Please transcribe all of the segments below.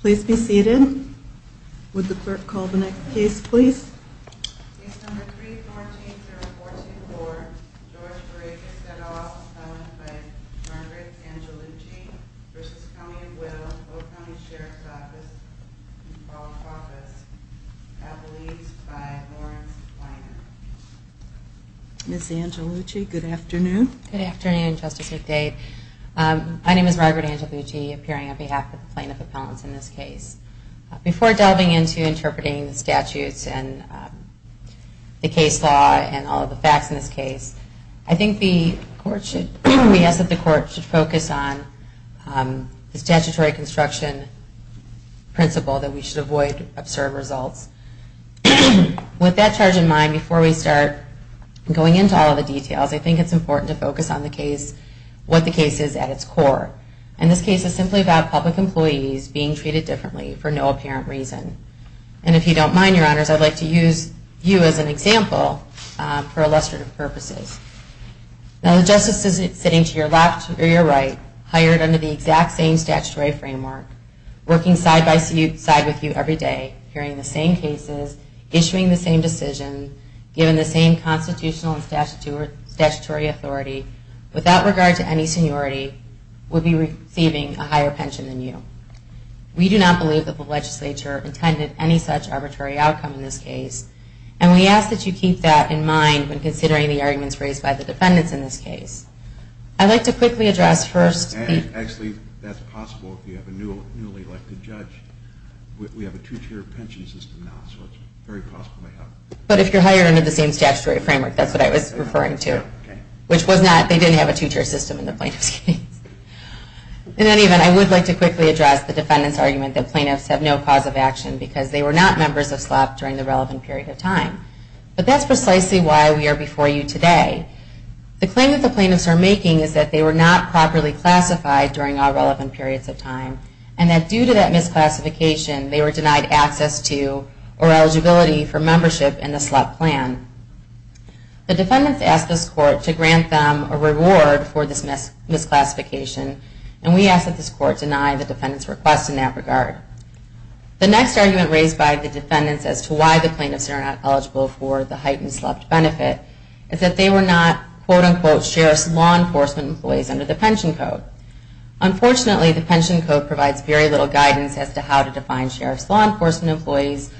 Please be seated. Would the clerk call the next case, please? Case number 3-14-0144, George Vrakas v. County of Will, Oak County Sheriff's Office, Appalachias, by Lawrence Weiner. Ms. Angelucci, good afternoon. Good afternoon, Justice McDade. My name is Margaret Angelucci, appearing on behalf of the Plaintiff Appellants in this case. Before delving into interpreting the statutes and the case law and all of the facts in this case, I think the court should focus on the statutory construction principle that we should avoid absurd results. With that charge in mind, before we start going into all of the details, I think it's important to focus on what the case is at its core. And this case is simply about public employees being treated differently for no apparent reason. And if you don't mind, Your Honors, I'd like to use you as an example for illustrative purposes. Now the justice is sitting to your left or your right, hired under the exact same statutory framework, working side-by-side with you every day, hearing the same cases, issuing the same decisions, given the same constitutional and statutory authority, without regard to any seniority, would be receiving a higher pension than you. We do not believe that the legislature intended any such arbitrary outcome in this case. And we ask that you keep that in mind when considering the arguments raised by the defendants in this case. I'd like to quickly address first... Actually, that's possible if you have a newly elected judge. We have a two-tier pension system now, so it's very possible to have... But if you're hired under the same statutory framework, that's what I was referring to. Which was not, they didn't have a two-tier system in the plaintiff's case. In any event, I would like to quickly address the defendant's argument that plaintiffs have no cause of action because they were not members of SLEP during the relevant period of time. But that's precisely why we are before you today. The claim that the plaintiffs are making is that they were not properly classified during all relevant periods of time, and that due to that misclassification, they were denied access to or eligibility for membership in the SLEP plan. The defendants asked this court to grant them a reward for this misclassification, and we ask that this court deny the defendant's request in that regard. The next argument raised by the defendants as to why the plaintiffs are not eligible for the heightened SLEP benefit is that they were not, quote-unquote, sheriff's law enforcement employees under the pension code. Unfortunately, the pension code provides very little guidance as to how to define sheriff's law enforcement employees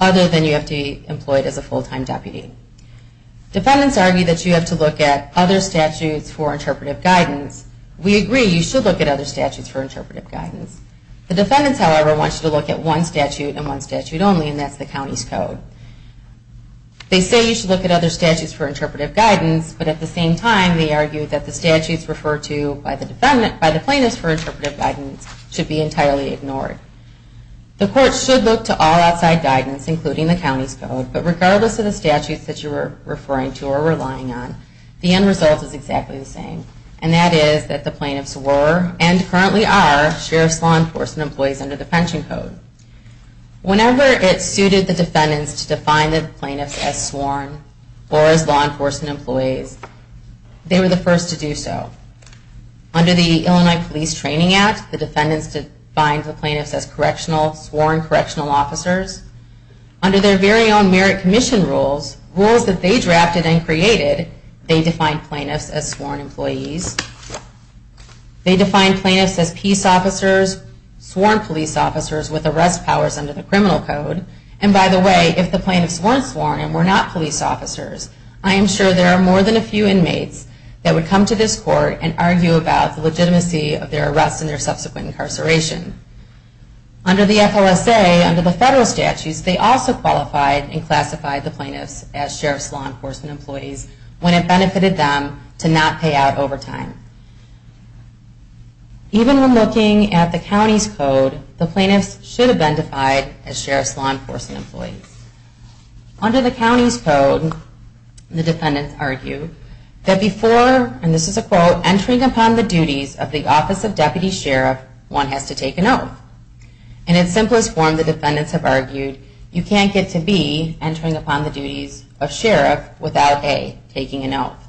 other than you have to be employed as a full-time deputy. Defendants argue that you have to look at other statutes for interpretive guidance. We agree you should look at other statutes for interpretive guidance. The defendants, however, want you to look at one statute and one statute only, and that's the county's code. They say you should look at other statutes for interpretive guidance, but at the same time they argue that the statutes referred to by the plaintiffs for interpretive guidance should be entirely ignored. The court should look to all outside guidance, including the county's code, but regardless of the statutes that you are referring to or relying on, the end result is exactly the same, and that is that the plaintiffs were, and currently are, sheriff's law enforcement employees under the pension code. Whenever it suited the defendants to define the plaintiffs as sworn or as law enforcement employees, they were the first to do so. Under the Illinois Police Training Act, the defendants defined the plaintiffs as correctional, sworn correctional officers. Under their very own merit commission rules, rules that they drafted and created, they defined plaintiffs as sworn employees. They defined plaintiffs as peace officers, sworn police officers with arrest powers under the criminal code, and by the way, if the plaintiffs weren't sworn and were not police officers, I am sure there are more than a few inmates that would come to this court and argue about the legitimacy of their arrest and their subsequent incarceration. Under the FLSA, under the federal statutes, they also qualified and classified the plaintiffs as sheriff's law enforcement employees when it benefited them to not pay out overtime. Even when looking at the county's code, the plaintiffs should have been defined as sheriff's law enforcement employees. Under the county's code, the defendants argue that before, and this is a quote, entering upon the duties of the office of deputy sheriff, one has to take an oath. In its simplest form, the defendants have argued, you can't get to B, entering upon the duties of sheriff, without A, taking an oath.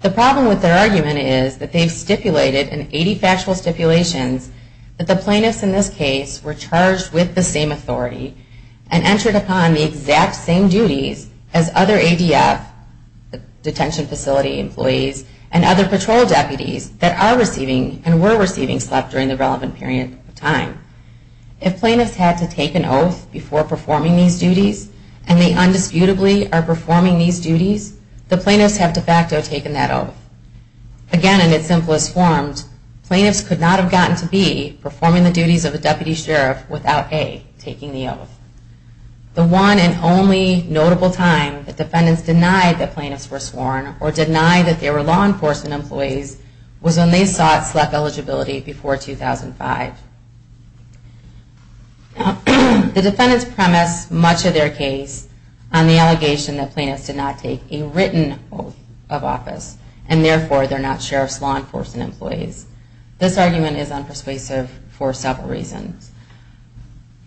The problem with their argument is that they've stipulated in 80 factual stipulations that the plaintiffs in this case were charged with the same authority and entered upon the exact same duties as other ADF, the detention facility employees, and other patrol deputies that are receiving and were receiving slept during the relevant period of time. If plaintiffs had to take an oath before performing these duties, and they undisputably are performing these duties, the plaintiffs have de facto taken that oath. Again, in its simplest form, plaintiffs could not have gotten to B, performing the duties of a deputy sheriff, without A, taking the oath. The one and only notable time that defendants denied that plaintiffs were sworn or denied that they were law enforcement employees was when they sought SLEP eligibility before 2005. The defendants premise much of their case on the allegation that plaintiffs did not take a written oath of office, and therefore they're not sheriff's law enforcement employees. This argument is unpersuasive for several reasons.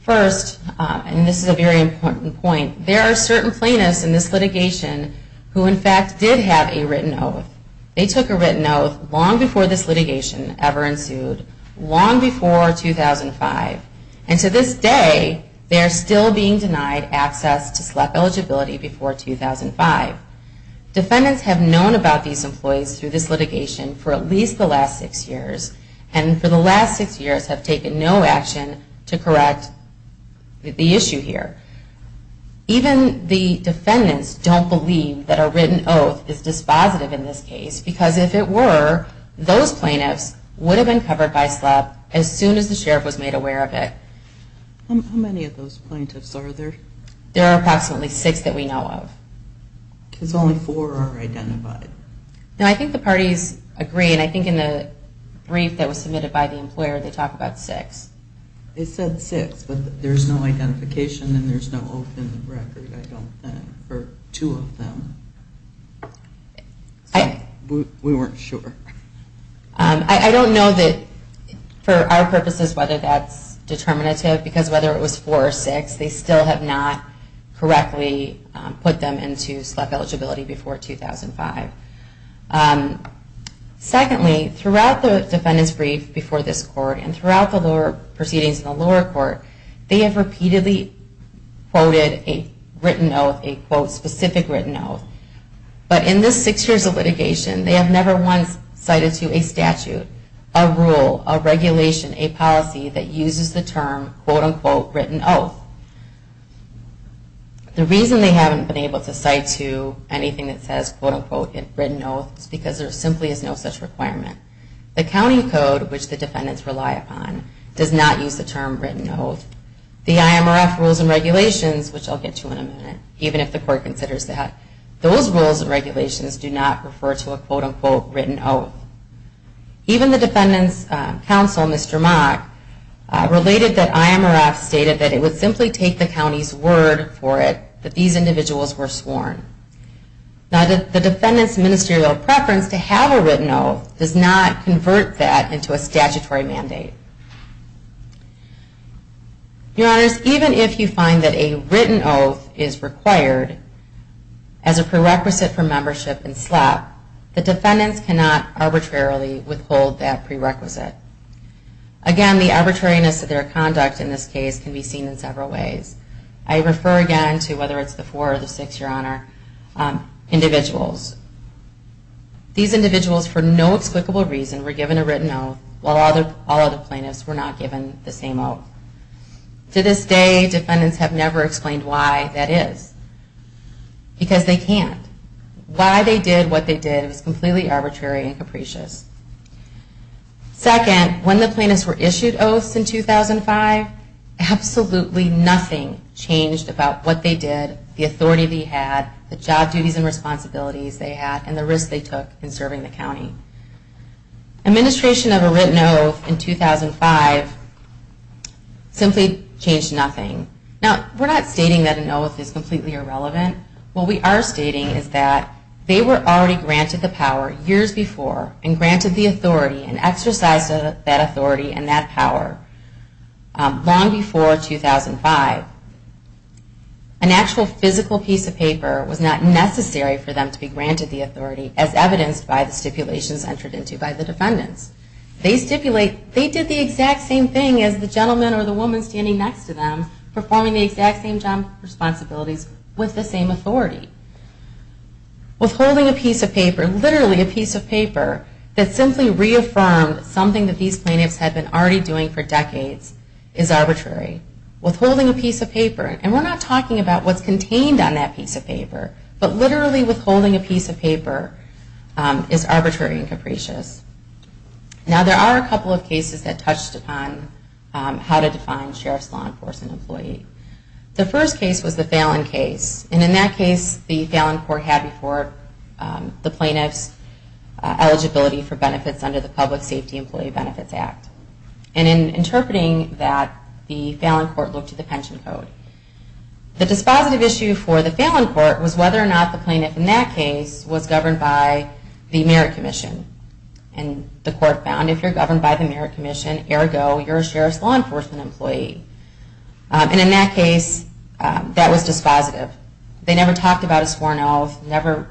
First, and this is a very important point, there are certain plaintiffs in this litigation who in fact did have a written oath. They took a written oath long before this litigation ever ensued, long before 2005. And to this day, they are still being denied access to SLEP eligibility before 2005. Defendants have known about these employees through this litigation for at least the last six years, and for the last six years have taken no action to correct the issue here. Even the defendants don't believe that a written oath is dispositive in this case, because if it were, those plaintiffs would have been covered by SLEP as soon as the sheriff was made aware of it. How many of those plaintiffs are there? There are approximately six that we know of. Because only four are identified. I think the parties agree, and I think in the brief that was submitted by the employer, they talk about six. They said six, but there's no identification and there's no open record, I don't think, for two of them. We weren't sure. I don't know that for our purposes whether that's determinative, because whether it was four or six, they still have not correctly put them into SLEP eligibility before 2005. Secondly, throughout the defendant's brief before this court and throughout the lower proceedings in the lower court, they have repeatedly quoted a written oath, a quote, specific written oath. But in this six years of litigation, they have never once cited to a statute, a rule, a regulation, a policy that uses the term, quote, unquote, written oath. The reason they haven't been able to cite to anything that says, quote, unquote, written oath, is because there simply is no such requirement. The county code, which the defendants rely upon, does not use the term written oath. The IMRF rules and regulations, which I'll get to in a minute, even if the court considers that, those rules and regulations do not refer to a, quote, unquote, written oath. Even the defendant's counsel, Mr. Mock, related that IMRF stated that it would simply take the county's word for it, that these individuals were sworn. Now, the defendant's ministerial preference to have a written oath does not convert that into a statutory mandate. Your Honors, even if you find that a written oath is required as a prerequisite for membership in SLEP, the defendants cannot arbitrarily withhold that prerequisite. Again, the arbitrariness of their conduct in this case can be seen in several ways. I refer again to, whether it's the four or the six, Your Honor, individuals. These individuals, for no explicable reason, were given a written oath, while all other plaintiffs were not given the same oath. To this day, defendants have never explained why that is, because they can't. Why they did what they did is completely arbitrary and capricious. Second, when the plaintiffs were issued oaths in 2005, absolutely nothing changed about what they did, the authority they had, the job duties and responsibilities they had, and the risk they took in serving the county. Administration of a written oath in 2005 simply changed nothing. Now, we're not stating that an oath is completely irrelevant. What we are stating is that they were already granted the power years before and granted the authority and exercised that authority and that power long before 2005. An actual physical piece of paper was not necessary for them to be granted the authority, as evidenced by the stipulations entered into by the defendants. They stipulate they did the exact same thing as the gentleman or the woman standing next to them, performing the exact same job responsibilities with the same authority. Withholding a piece of paper, literally a piece of paper, that simply reaffirmed something that these plaintiffs had been already doing for decades is arbitrary. Withholding a piece of paper, and we're not talking about what's contained on that piece of paper, but literally withholding a piece of paper is arbitrary and capricious. Now, there are a couple of cases that touched upon how to define sheriff's law enforcement employee. The first case was the Fallon case. And in that case, the Fallon court had before the plaintiff's eligibility for benefits under the Public Safety Employee Benefits Act. And in interpreting that, the Fallon court looked at the pension code. The dispositive issue for the Fallon court was whether or not the plaintiff in that case was governed by the Merit Commission. And the court found if you're governed by the Merit Commission, ergo, you're a sheriff's law enforcement employee. And in that case, that was dispositive. They never talked about a sworn oath, never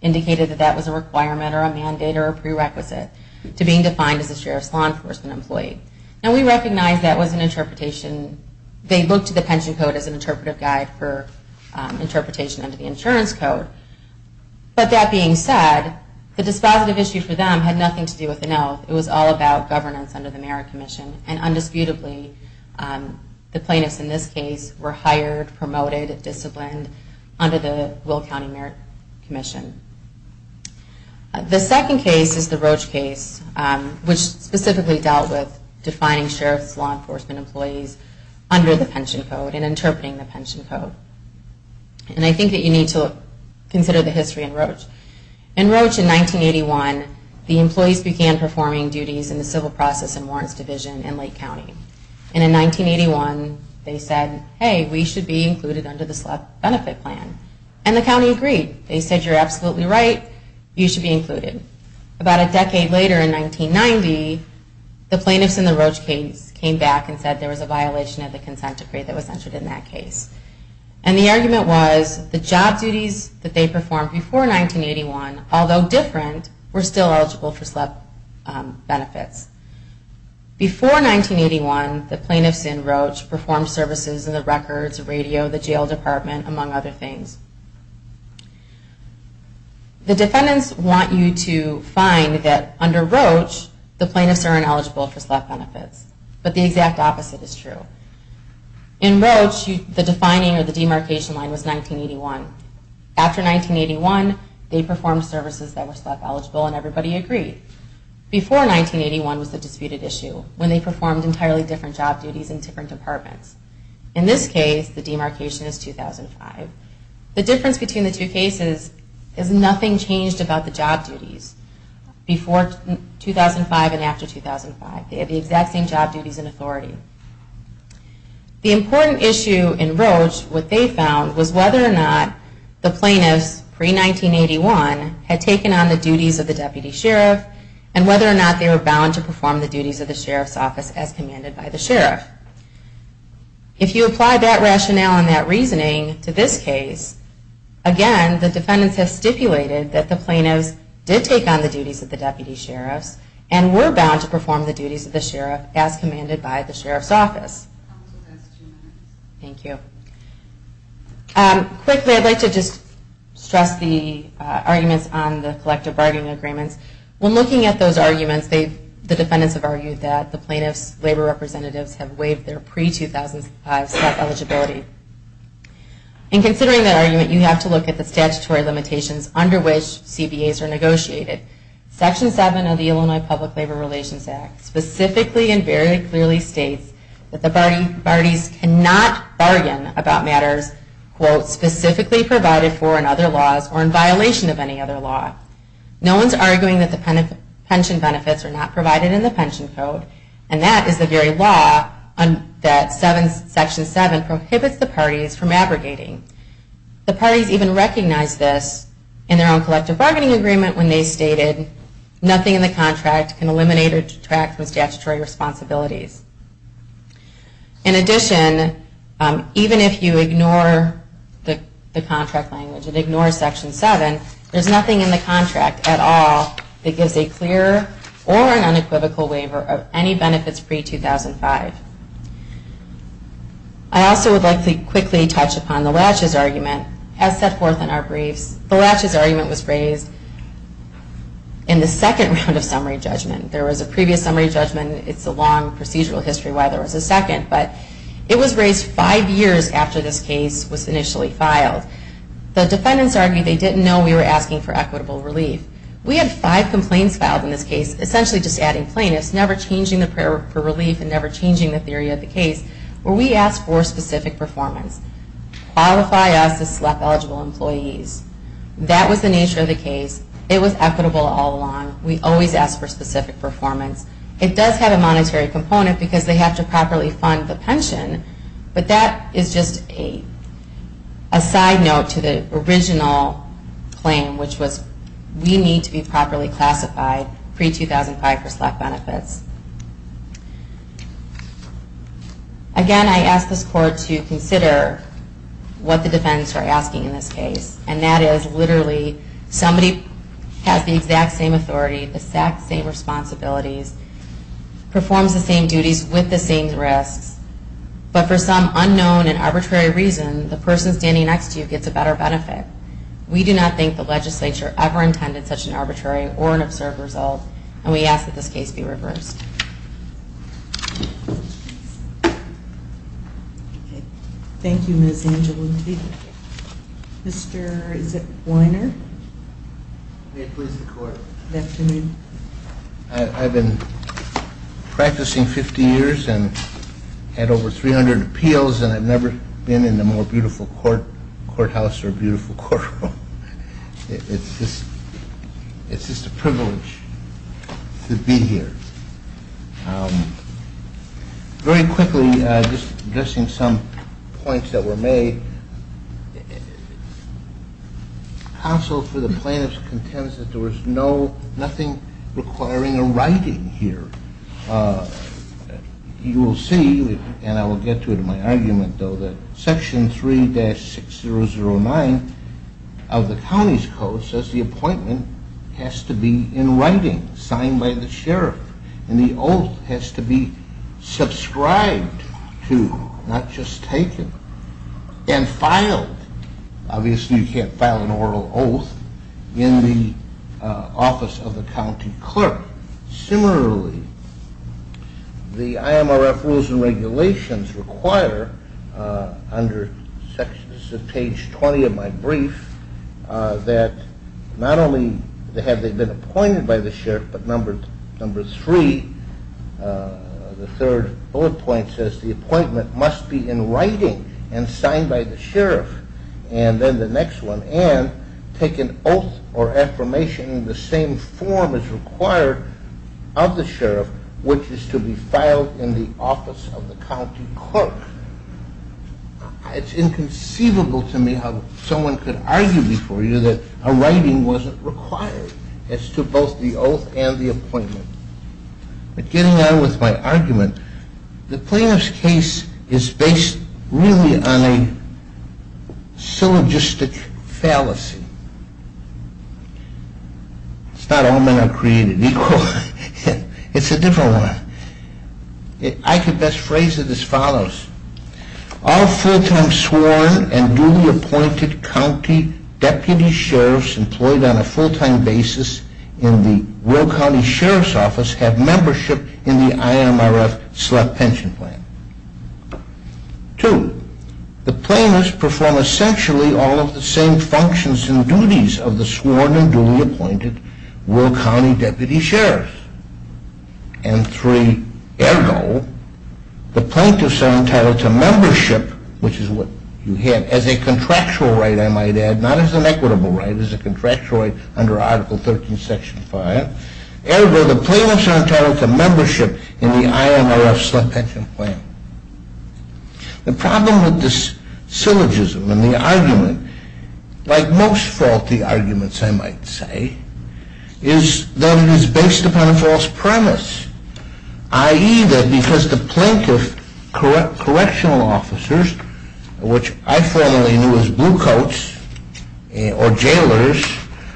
indicated that that was a requirement or a mandate or a prerequisite to being defined as a sheriff's law enforcement employee. Now, we recognize that was an interpretation. They looked at the pension code as an interpretive guide for interpretation under the insurance code. But that being said, the dispositive issue for them had nothing to do with an oath. It was all about governance under the Merit Commission. And undisputably, the plaintiffs in this case were hired, promoted, disciplined under the Will County Merit Commission. The second case is the Roach case, which specifically dealt with defining sheriff's law enforcement employees under the pension code and interpreting the pension code. And I think that you need to consider the history in Roach. In Roach, in 1981, the employees began performing duties in the Civil Process and Warrants Division in Lake County. And in 1981, they said, hey, we should be included under this benefit plan. And the county agreed. They said, you're absolutely right, you should be included. About a decade later, in 1990, the plaintiffs in the Roach case came back and said there was a violation of the consent decree that was entered in that case. And the argument was the job duties that they performed before 1981, although different, were still eligible for SLEP benefits. Before 1981, the plaintiffs in Roach performed services in the Records, Radio, the Jail Department, among other things. The defendants want you to find that under Roach, the plaintiffs are ineligible for SLEP benefits. But the exact opposite is true. In Roach, the defining or the demarcation line was 1981. After 1981, they performed services that were SLEP eligible, and everybody agreed. Before 1981 was the disputed issue, when they performed entirely different job duties in different departments. In this case, the demarcation is 2005. The difference between the two cases is nothing changed about the job duties before 2005 and after 2005. They had the exact same job duties and authority. The important issue in Roach, what they found, was whether or not the plaintiffs, pre-1981, had taken on the duties of the deputy sheriff, as commanded by the sheriff. If you apply that rationale and that reasoning to this case, again, the defendants have stipulated that the plaintiffs did take on the duties of the deputy sheriff, and were bound to perform the duties of the sheriff, as commanded by the sheriff's office. Thank you. Quickly, I'd like to just stress the arguments on the collective bargaining agreements. When looking at those arguments, the defendants have argued that the plaintiffs' labor representatives have waived their pre-2005 SLEP eligibility. In considering that argument, you have to look at the statutory limitations under which CBAs are negotiated. Section 7 of the Illinois Public Labor Relations Act specifically and very clearly states that the parties cannot bargain about matters quote, specifically provided for in other laws, or in violation of any other law. No one's arguing that the pension benefits are not provided in the pension code, and that is the very law that Section 7 prohibits the parties from abrogating. The parties even recognized this in their own collective bargaining agreement when they stated, nothing in the contract can eliminate or detract from statutory responsibilities. In addition, even if you ignore the contract language, it ignores Section 7, there's nothing in the contract at all that gives a clear or an unequivocal waiver of any benefits pre-2005. I also would like to quickly touch upon the latches argument as set forth in our briefs. The latches argument was raised in the second round of summary judgment. There was a previous summary judgment. It's a long procedural history why there was a second, but it was raised five years after this case was initially filed. The defendants argued they didn't know we were asking for equitable relief. We had five complaints filed in this case, essentially just adding plaintiffs, never changing the prayer for relief and never changing the theory of the case, where we asked for specific performance. Qualify us as SLEP-eligible employees. That was the nature of the case. It was equitable all along. We always asked for specific performance. It does have a monetary component because they have to properly fund the pension, but that is just a side note to the original claim, which was we need to be properly classified pre-2005 for SLEP benefits. Again, I ask this Court to consider what the defendants are asking in this case, and that is literally somebody has the exact same authority, the exact same responsibilities, performs the same duties with the same risks, but for some unknown and arbitrary reason, the person standing next to you gets a better benefit. We do not think the legislature ever intended such an arbitrary or an absurd result, and we ask that this case be reversed. Thank you, Ms. Angelou. Mr. Weiner. May it please the Court. I have been practicing 50 years and had over 300 appeals, and I have never been in a more beautiful courthouse or a more beautiful courtroom. It is just a privilege to be here. Very quickly, just addressing some points that were made, counsel for the plaintiffs contends that there was nothing requiring a writing here. You will see, and I will get to it in my argument, though, that Section 3-6009 of the County's Code says the appointment has to be in writing, signed by the sheriff, and the oath has to be subscribed to, not just taken. And filed. Obviously you can't file an oral oath in the office of the county clerk. Similarly, the IMRF rules and regulations require, under pages 20 of my brief, that not only have they been appointed by the sheriff, but number three, the third bullet point says the appointment must be in writing and signed by the sheriff, and then the next one, and take an oath or affirmation in the same form as required of the sheriff, which is to be filed in the office of the county clerk. It's inconceivable to me how someone could argue before you that a writing wasn't required as to both the oath and the appointment. But getting on with my argument, the plaintiff's case is based really on a syllogistic fallacy. It's not all men are created equal. It's a different one. I could best phrase it as follows. All full-time sworn and duly appointed county deputy sheriffs employed on a full-time basis in the rural county sheriff's office have membership in the IMRF select pension plan. Two, the plaintiffs perform essentially all of the same functions and duties of the sworn and duly appointed rural county deputy sheriff. And three, ergo, the plaintiffs are entitled to membership, which is what you have as a contractual right, I might add, not as an equitable right, as a contractual right under Article 13, Section 5. Ergo, the plaintiffs are entitled to membership in the IMRF select pension plan. The problem with this syllogism and the argument, like most faulty arguments, I might say, is that it is based upon a false premise, i.e., that because the plaintiff and his correctional officers, which I formerly knew as bluecoats or jailers,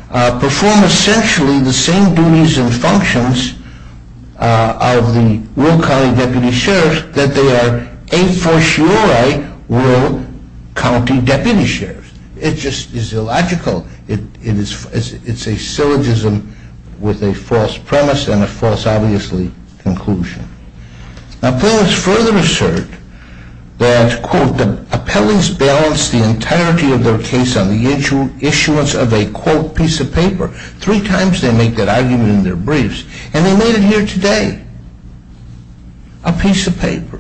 perform essentially the same duties and functions of the rural county deputy sheriff that they are a fortiori rural county deputy sheriffs. It just is illogical. It's a syllogism with a false premise and a false, obviously, conclusion. Now, plaintiffs further assert that, quote, the appellants balance the entirety of their case on the issuance of a, quote, piece of paper. Three times they make that argument in their briefs and they made it here today. A piece of paper.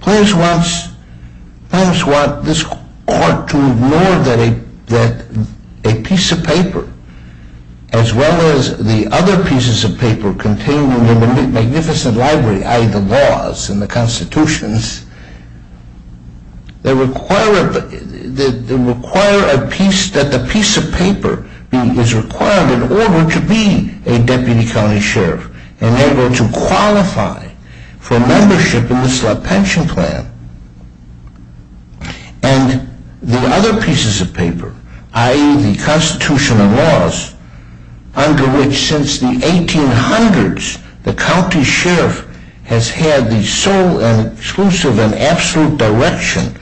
Plaintiffs want this court to ignore that a piece of paper as well as the other pieces of paper contained in the magnificent library, i.e., the laws and the constitutions, that require a piece, that the piece of paper is required in order to be a deputy county sheriff and able to qualify for membership in the Slot Pension Plan. And the other pieces of paper, i.e., the constitutional laws under which since the 1800s the county sheriff has had the sole and exclusive and absolute direction,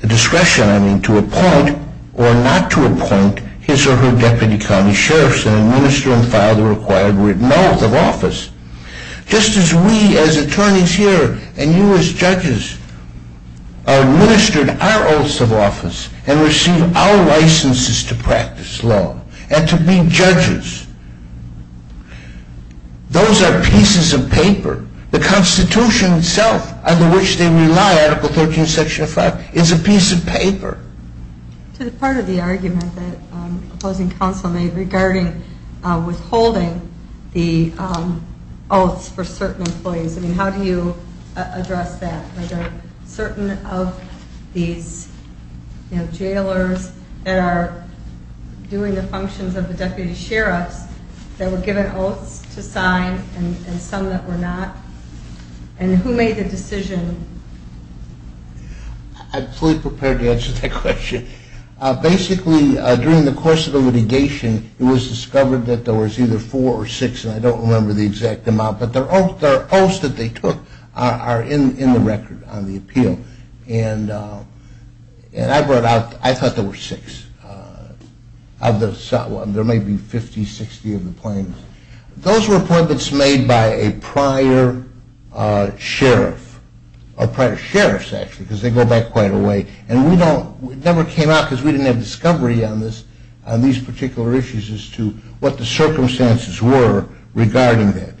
the discretion, I mean, to appoint or not to appoint his or her deputy county sheriff and administer and file the required written oath of office. Just as we as attorneys here and you as judges administer our oaths of office and receive our licenses to practice law and to be judges. Those are pieces of paper. The Constitution itself under which they rely, Article 13, Section 5, is a piece of paper. To the part of the argument that opposing counsel made regarding withholding the oaths for certain employees, I mean, how do you address that? Are there certain of these jailers that are doing the functions of the deputy sheriffs that were given oaths to sign and some that were not? And who made the decision? I'm fully prepared to answer that question. Basically, during the course of the litigation it was discovered that there was either four or six and I don't remember the exact amount but the oaths that they took are in the record on the appeal. And I thought there were six. There may be 50, 60 of the plaintiffs. Those were appointments made by a prior sheriff or prior sheriffs actually because they go back quite a way and it never came out because we didn't have discovery on these particular issues as to what the circumstances were regarding that.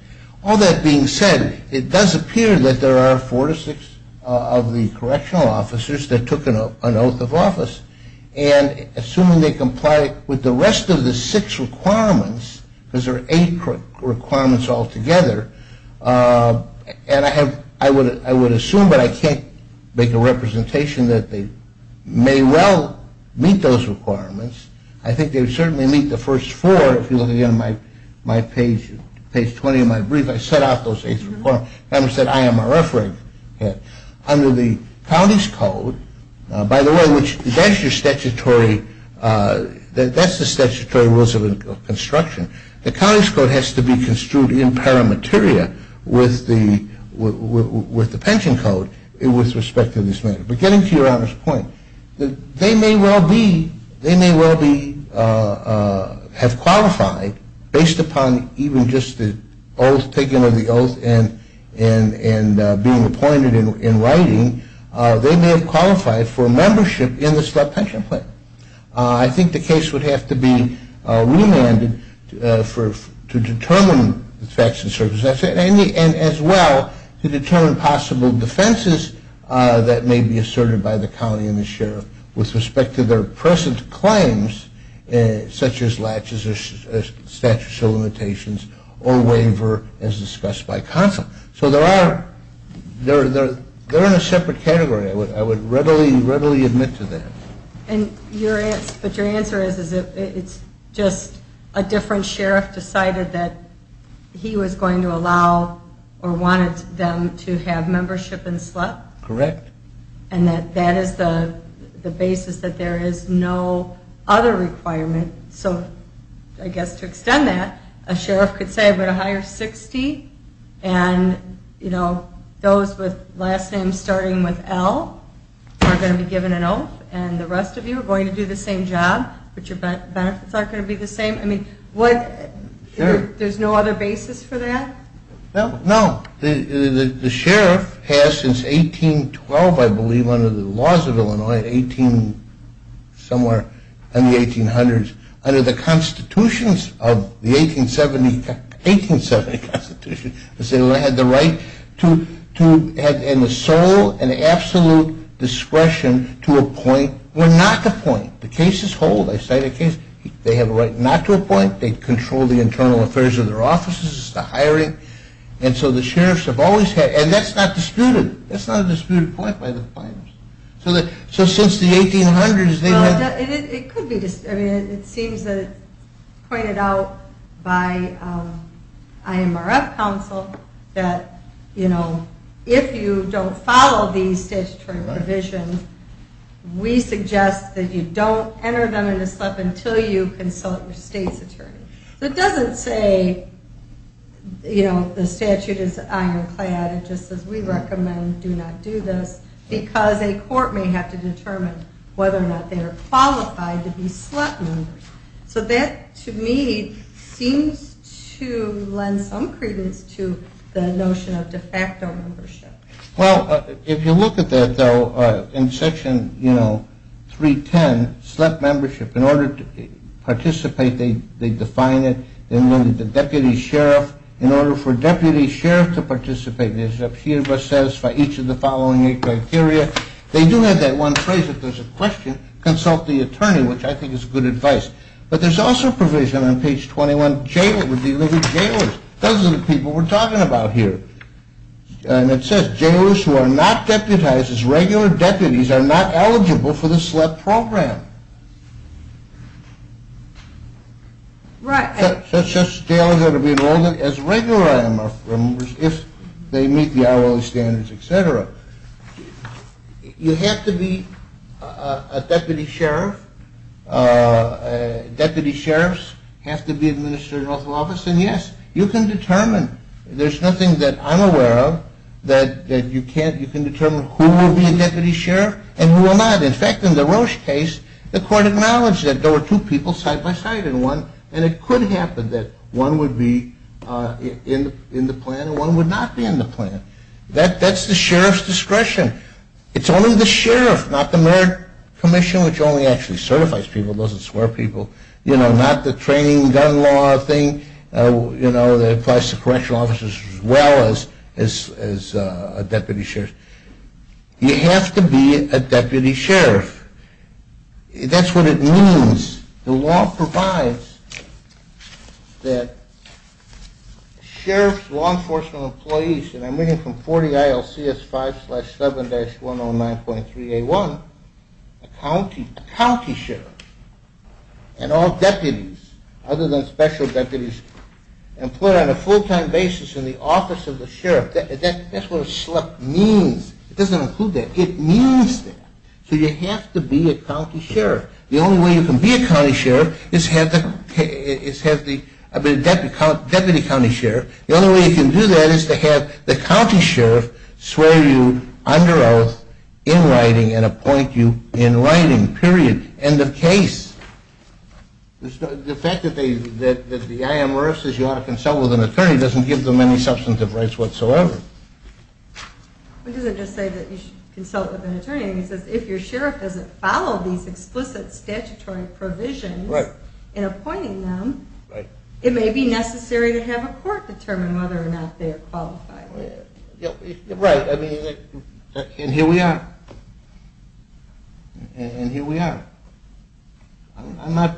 All that being said, it does appear that there are four to six of the correctional officers that took an oath of office and assuming they comply with the rest of the six requirements because there are eight requirements altogether and I would assume but I can't make a representation that they may well meet those requirements. I think they would certainly meet the first four if you look at my page 20 of my brief I set out those eight requirements. I am a referee. Under the county's code, by the way that's the statutory rules of construction the county's code has to be construed in paramateria with the pension code with respect to this matter. But getting to your honor's point they may well be have qualified based upon even just the taking of the oath and being appointed in writing they may have qualified for membership in the slept pension plan. I think the case would have to be remanded to determine facts and circumstances and as well to determine possible defenses that may be asserted by the county and the sheriff with respect to their present claims such as latches or statute of limitations or waiver as discussed by counsel. So they're in a separate category I would readily admit to that. But your answer is it's just a different sheriff decided that he was going to allow or wanted them to have membership in SLEP? Correct. And that is the basis that there is no other requirement so I guess to extend that a sheriff could say I'm going to hire 60 and those with last names starting with L are going to be given an oath and the rest of you are going to do the same job but your benefits aren't going to be the same? Sure. There's no other basis for that? No, the sheriff has since 1812 I believe under the laws of Illinois somewhere in the 1800s under the 1870 constitution had the right and the sole and absolute discretion to appoint or not appoint the case is whole they have a right not to appoint they control the internal affairs of their offices the hiring and so the sheriff and that's not disputed that's not a disputed point by the plaintiffs so since the 1800s it seems pointed out by IMRF counsel that if you don't follow these statutory provisions we suggest that you don't enter them into SLEP until you consult your state's attorney so it doesn't say the statute is ironclad it just says we recommend do not do this because a court may have to determine whether or not they are qualified to be SLEP members so that to me seems to lend some credence to the notion of de facto membership Well if you look at that though in section 310 SLEP membership in order to participate they define it the deputy sheriff in order for deputy sheriff to participate each of the following criteria they do have that one phrase if there's a question consult the attorney which I think is good advice but there's also provision on page 21 jailers, those are the people we're talking about here and it says jailers who are not deputized as regular deputies are not eligible for the SLEP program Right So it says jailers ought to be enrolled as regular IMLF members if they meet the hourly standards, etc. You have to be a deputy sheriff Deputy sheriffs have to be administered in office and yes, you can determine there's nothing that I'm aware of that you can't, you can determine who will be a deputy sheriff and who will not. In fact in the Roche case the court acknowledged that there were two people side by side and it could happen that one would be in the plan and one would not be in the plan that's the sheriff's discretion it's only the sheriff, not the merit commission which only actually certifies people, doesn't swear people not the training gun law thing that applies to correctional officers as well as a deputy sheriff you have to be a deputy sheriff that's what it means the law provides that sheriff's law enforcement employees and I'm reading from 40 ILCS 5-7-109.3a1 a county sheriff and all deputies other than special deputies employed on a full time basis in the office of the sheriff that's what a SHLEP means it doesn't include that, it means that so you have to be a county sheriff the only way you can be a county sheriff is have the deputy county sheriff the only way you can do that is to have the county sheriff swear you under oath in writing and appoint you in writing period end of case the fact that the IMRF says you ought to consult with an attorney doesn't give them any substantive rights whatsoever it doesn't just say that you should consult with an attorney it says if your sheriff doesn't follow these explicit statutory provisions in appointing them it may be necessary to have a court determine whether or not they are qualified right, and here we are and here we are I'm not,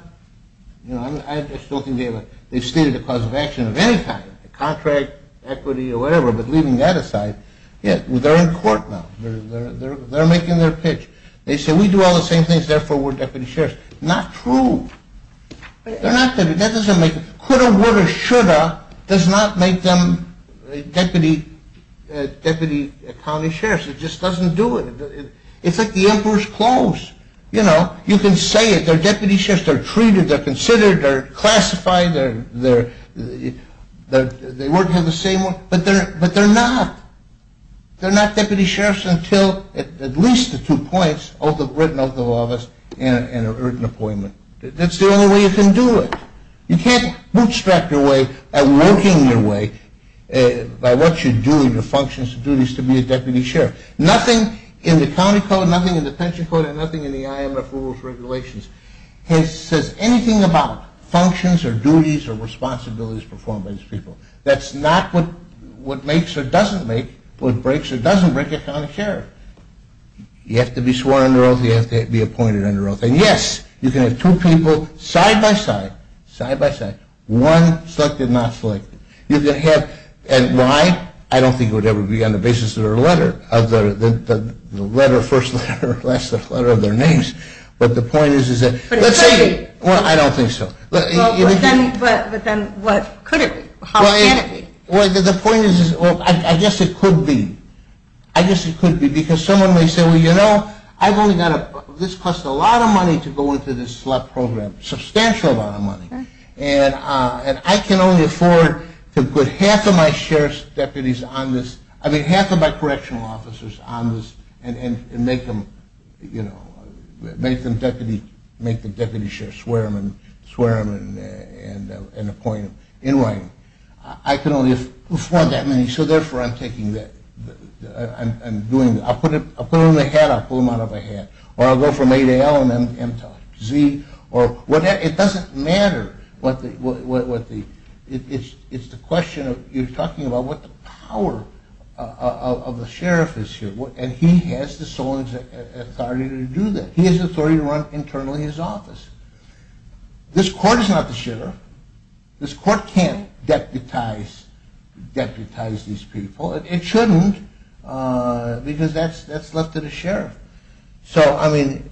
you know they stated a cause of action of any kind a contract, equity or whatever but leaving that aside they're in court now, they're making their pitch they say we do all the same things therefore we're deputy sheriffs not true coulda, woulda, shoulda does not make them deputy county sheriffs, it just doesn't do it it's like the emperor's clothes you know, you can say it, they're deputy sheriffs, they're treated they're considered, they're classified they work here the same way, but they're not they're not deputy sheriffs until at least the two points written oath of office and written appointment that's the only way you can do it you can't bootstrap your way at working your way by what you do in your functions and duties to be a deputy sheriff nothing in the county code, nothing in the pension code and nothing in the IMF rules and regulations says anything about functions or duties or responsibilities performed by these people that's not what makes or doesn't make what breaks or doesn't break a county sheriff you have to be sworn under oath, you have to be appointed under oath and yes, you can have two people side by side one selected, one not selected you can have, and why? I don't think it would ever be on the basis of their letter first letter or last letter of their names but the point is, let's say, I don't think so but then what could it be? the point is, I guess it could be I guess it could be, because someone may say well you know, I've only got, this costs a lot of money to go into this select program, a substantial amount of money and I can only afford to put half of my sheriff's deputies on this I mean half of my correctional officers on this and make them deputy make the deputy sheriff swear them and appoint them in writing I can only afford that many, so therefore I'm taking that I'm doing, I'll put them in a hat I'll pull them out of a hat or I'll go from A to L and M to Z it doesn't matter it's the question of, you're talking about what the power of the sheriff is here and he has the sole authority to do that he has the authority to run internally his office this court is not the sheriff this court can't deputize these people it shouldn't, because that's left to the sheriff so I mean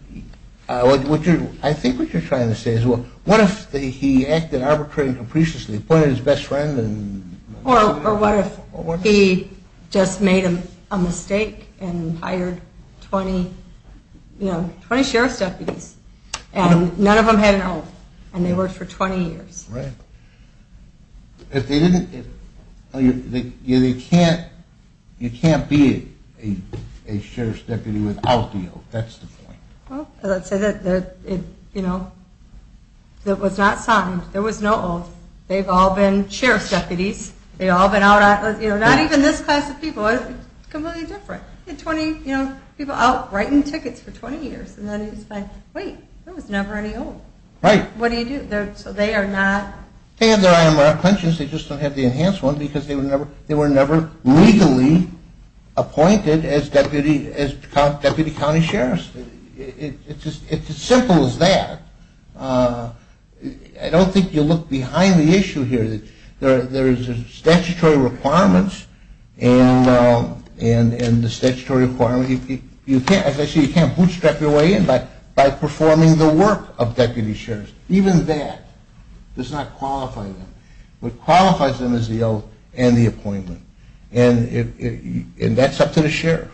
I think what you're trying to say is what if he acted arbitrarily and capriciously appointed his best friend or what if he just made a mistake and hired 20 sheriff's deputies and none of them had an oath and they worked for 20 years if they didn't you can't be a sheriff's deputy without the oath that's the point that was not signed, there was no oath they've all been sheriff's deputies not even this class of people it's completely different people out writing tickets for 20 years wait, there was never any oath what do you do, so they are not they don't have the enhanced one because they were never legally appointed as deputy county sheriff it's as simple as that I don't think you look behind the issue here there's statutory requirements and the statutory requirements you can't bootstrap your way in by performing the work of deputy sheriff even that does not qualify them what qualifies them is the oath and the appointment and that's up to the sheriff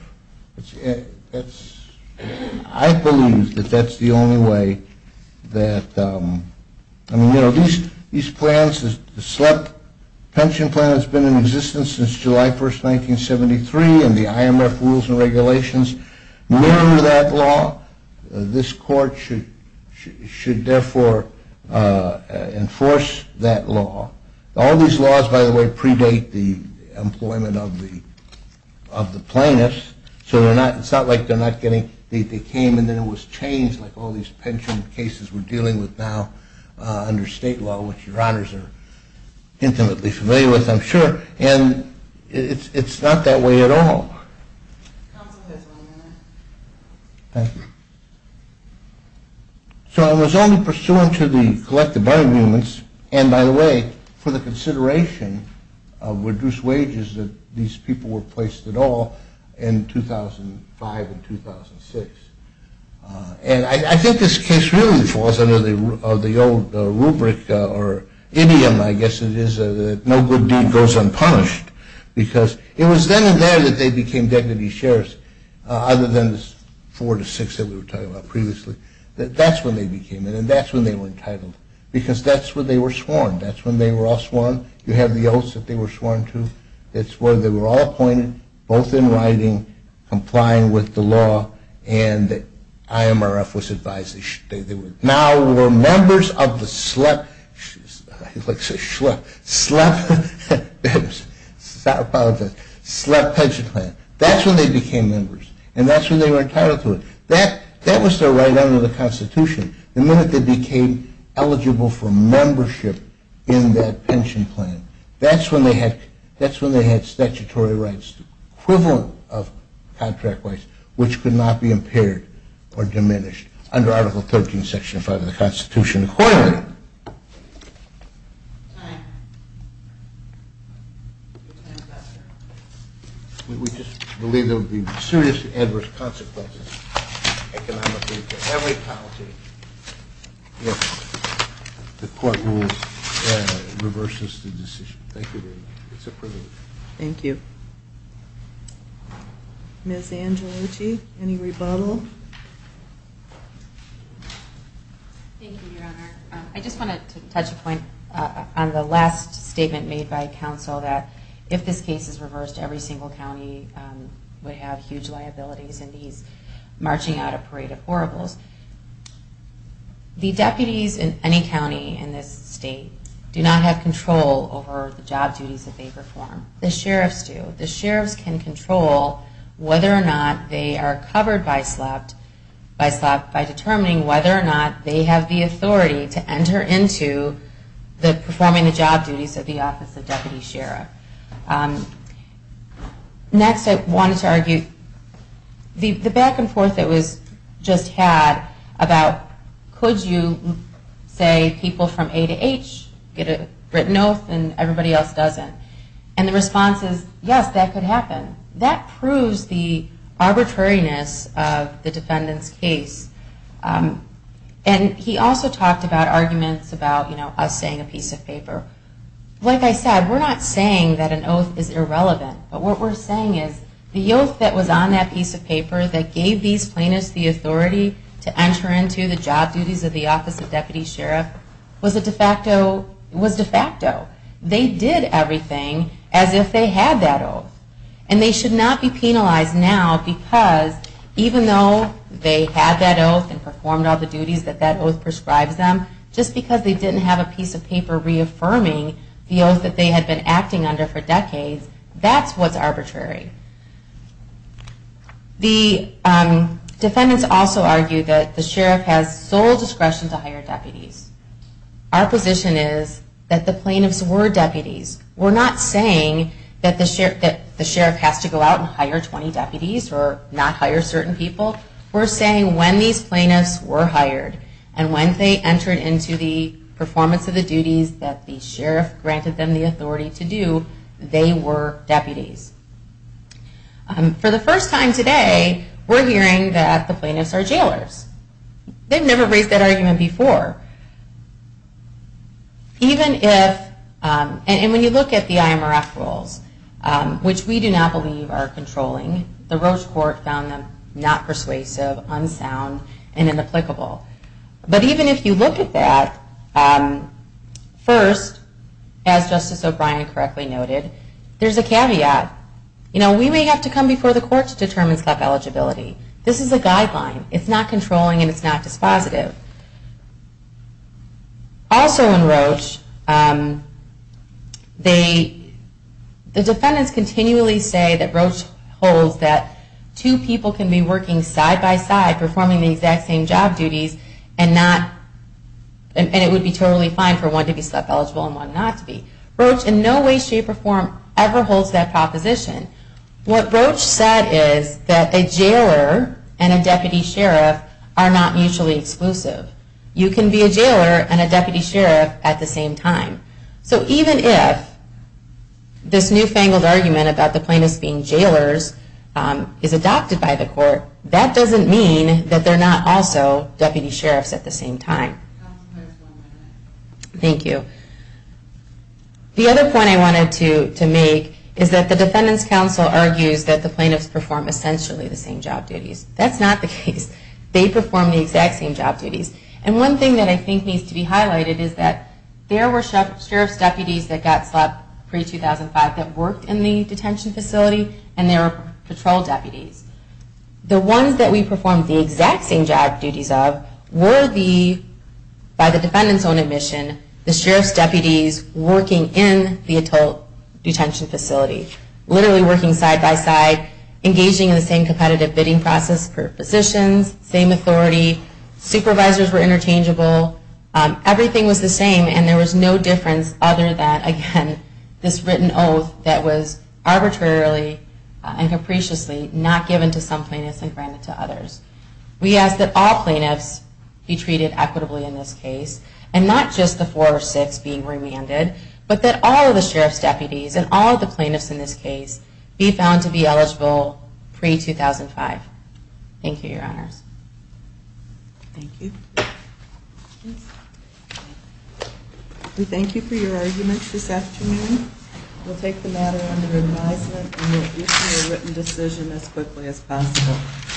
I believe that's the only way that these plans the slump pension plan has been in existence since July 1st, 1973 and the IMF rules and regulations mirror that law this court should therefore enforce that law all these laws by the way predate the employment of the plaintiffs so it's not like they're not getting they came and then it was changed like all these pension cases we're dealing with now under state law which your honors are intimately familiar with I'm sure and it's not that way at all so I was only pursuant to the collective arguments and by the way for the consideration of reduced wages that these people were placed at all in 2005 and 2006 and I think this case really falls under the old rubric or idiom I guess it is no good deed goes unpunished because it was then and there that they became deputy sheriffs other than the four to six that we were talking about previously that's when they became it and that's when they were entitled because that's when they were sworn that's when they were all sworn you have the oaths that they were sworn to that's when they were all appointed both in writing complying with the law and IMRF was advised now were members of the SLEP SLEP pension plan that's when they became members and that's when they were entitled to it that was their right under the constitution the minute they became eligible for membership in that pension plan that's when they had statutory rights equivalent of contract rights which could not be impaired or diminished under article 13 section 5 of the constitution and finally we just believe there would be serious adverse consequences economically for every county if the court rules reverses the decision thank you Ms. Angelucci any rebuttal I just wanted to touch a point on the last statement made by counsel that if this case is reversed every single county would have huge liabilities and he's marching out a parade of horribles the deputies in any county in this state do not have control over the job duties that they perform the sheriffs do but the sheriffs can control whether or not they are covered by SLEP by determining whether or not they have the authority to enter into the performing the job duties of the office of deputy sheriff next I wanted to argue the back and forth that was just had about could you say people from A to H get a written oath and everybody else doesn't and the response is yes that could happen that proves the arbitrariness of the defendant's case and he also talked about arguments about us saying a piece of paper like I said we're not saying that an oath is irrelevant but what we're saying is the oath that was on that piece of paper that gave these plaintiffs the authority to enter into the job duties of the office of deputy sheriff was de facto they did everything as if they had that oath and they should not be penalized now because even though they had that oath and performed all the duties that that oath prescribes them just because they didn't have a piece of paper reaffirming the oath that they had been acting under for decades that's what's arbitrary the defendants also argue that the sheriff has sole discretion to hire deputies our position is that the plaintiffs were deputies we're not saying that the sheriff has to go out and hire 20 deputies or not hire certain people we're saying when these plaintiffs were hired and when they entered into the performance of the duties that the sheriff granted them the authority to do they were deputies for the first time today we're hearing that the plaintiffs are jailers they've never raised that argument before even if and when you look at the IMRF rules which we do not believe are controlling the Roche court found them not persuasive unsound and inapplicable but even if you look at that first, as Justice O'Brien correctly noted there's a caveat we may have to come before the court to determine this is a guideline it's not controlling and it's not dispositive also in Roche the defendants continually say that Roche holds that two people can be working side by side performing the exact same job duties and it would be totally fine for one to be self-eligible and one not to be Roche in no way shape or form ever holds that proposition what Roche said is that a jailer and a deputy sheriff are not mutually exclusive you can be a jailer and a deputy sheriff at the same time so even if this newfangled argument about the plaintiffs being jailers is adopted by the court that doesn't mean that they're not also deputy sheriffs at the same time thank you the other point I wanted to make is that the defendants counsel argues that the plaintiffs perform essentially the same job duties that's not the case they perform the exact same job duties and one thing that I think needs to be highlighted is that there were sheriff's deputies that got slapped pre-2005 that worked in the detention facility and there were patrol deputies the ones that we performed the exact same job duties of were the, by the defendant's own admission the sheriff's deputies working in the adult detention facility literally working side by side engaging in the same competitive bidding process the plaintiffs were physicians, same authority supervisors were interchangeable everything was the same and there was no difference other than, again, this written oath that was arbitrarily and capriciously not given to some plaintiffs and granted to others we ask that all plaintiffs be treated equitably in this case and not just the four or six being remanded but that all of the sheriff's deputies and all of the plaintiffs in this case be found to be eligible pre-2005 thank you, your honors thank you we thank you for your arguments this afternoon we'll take the matter under advisement and we'll issue a written decision as quickly as possible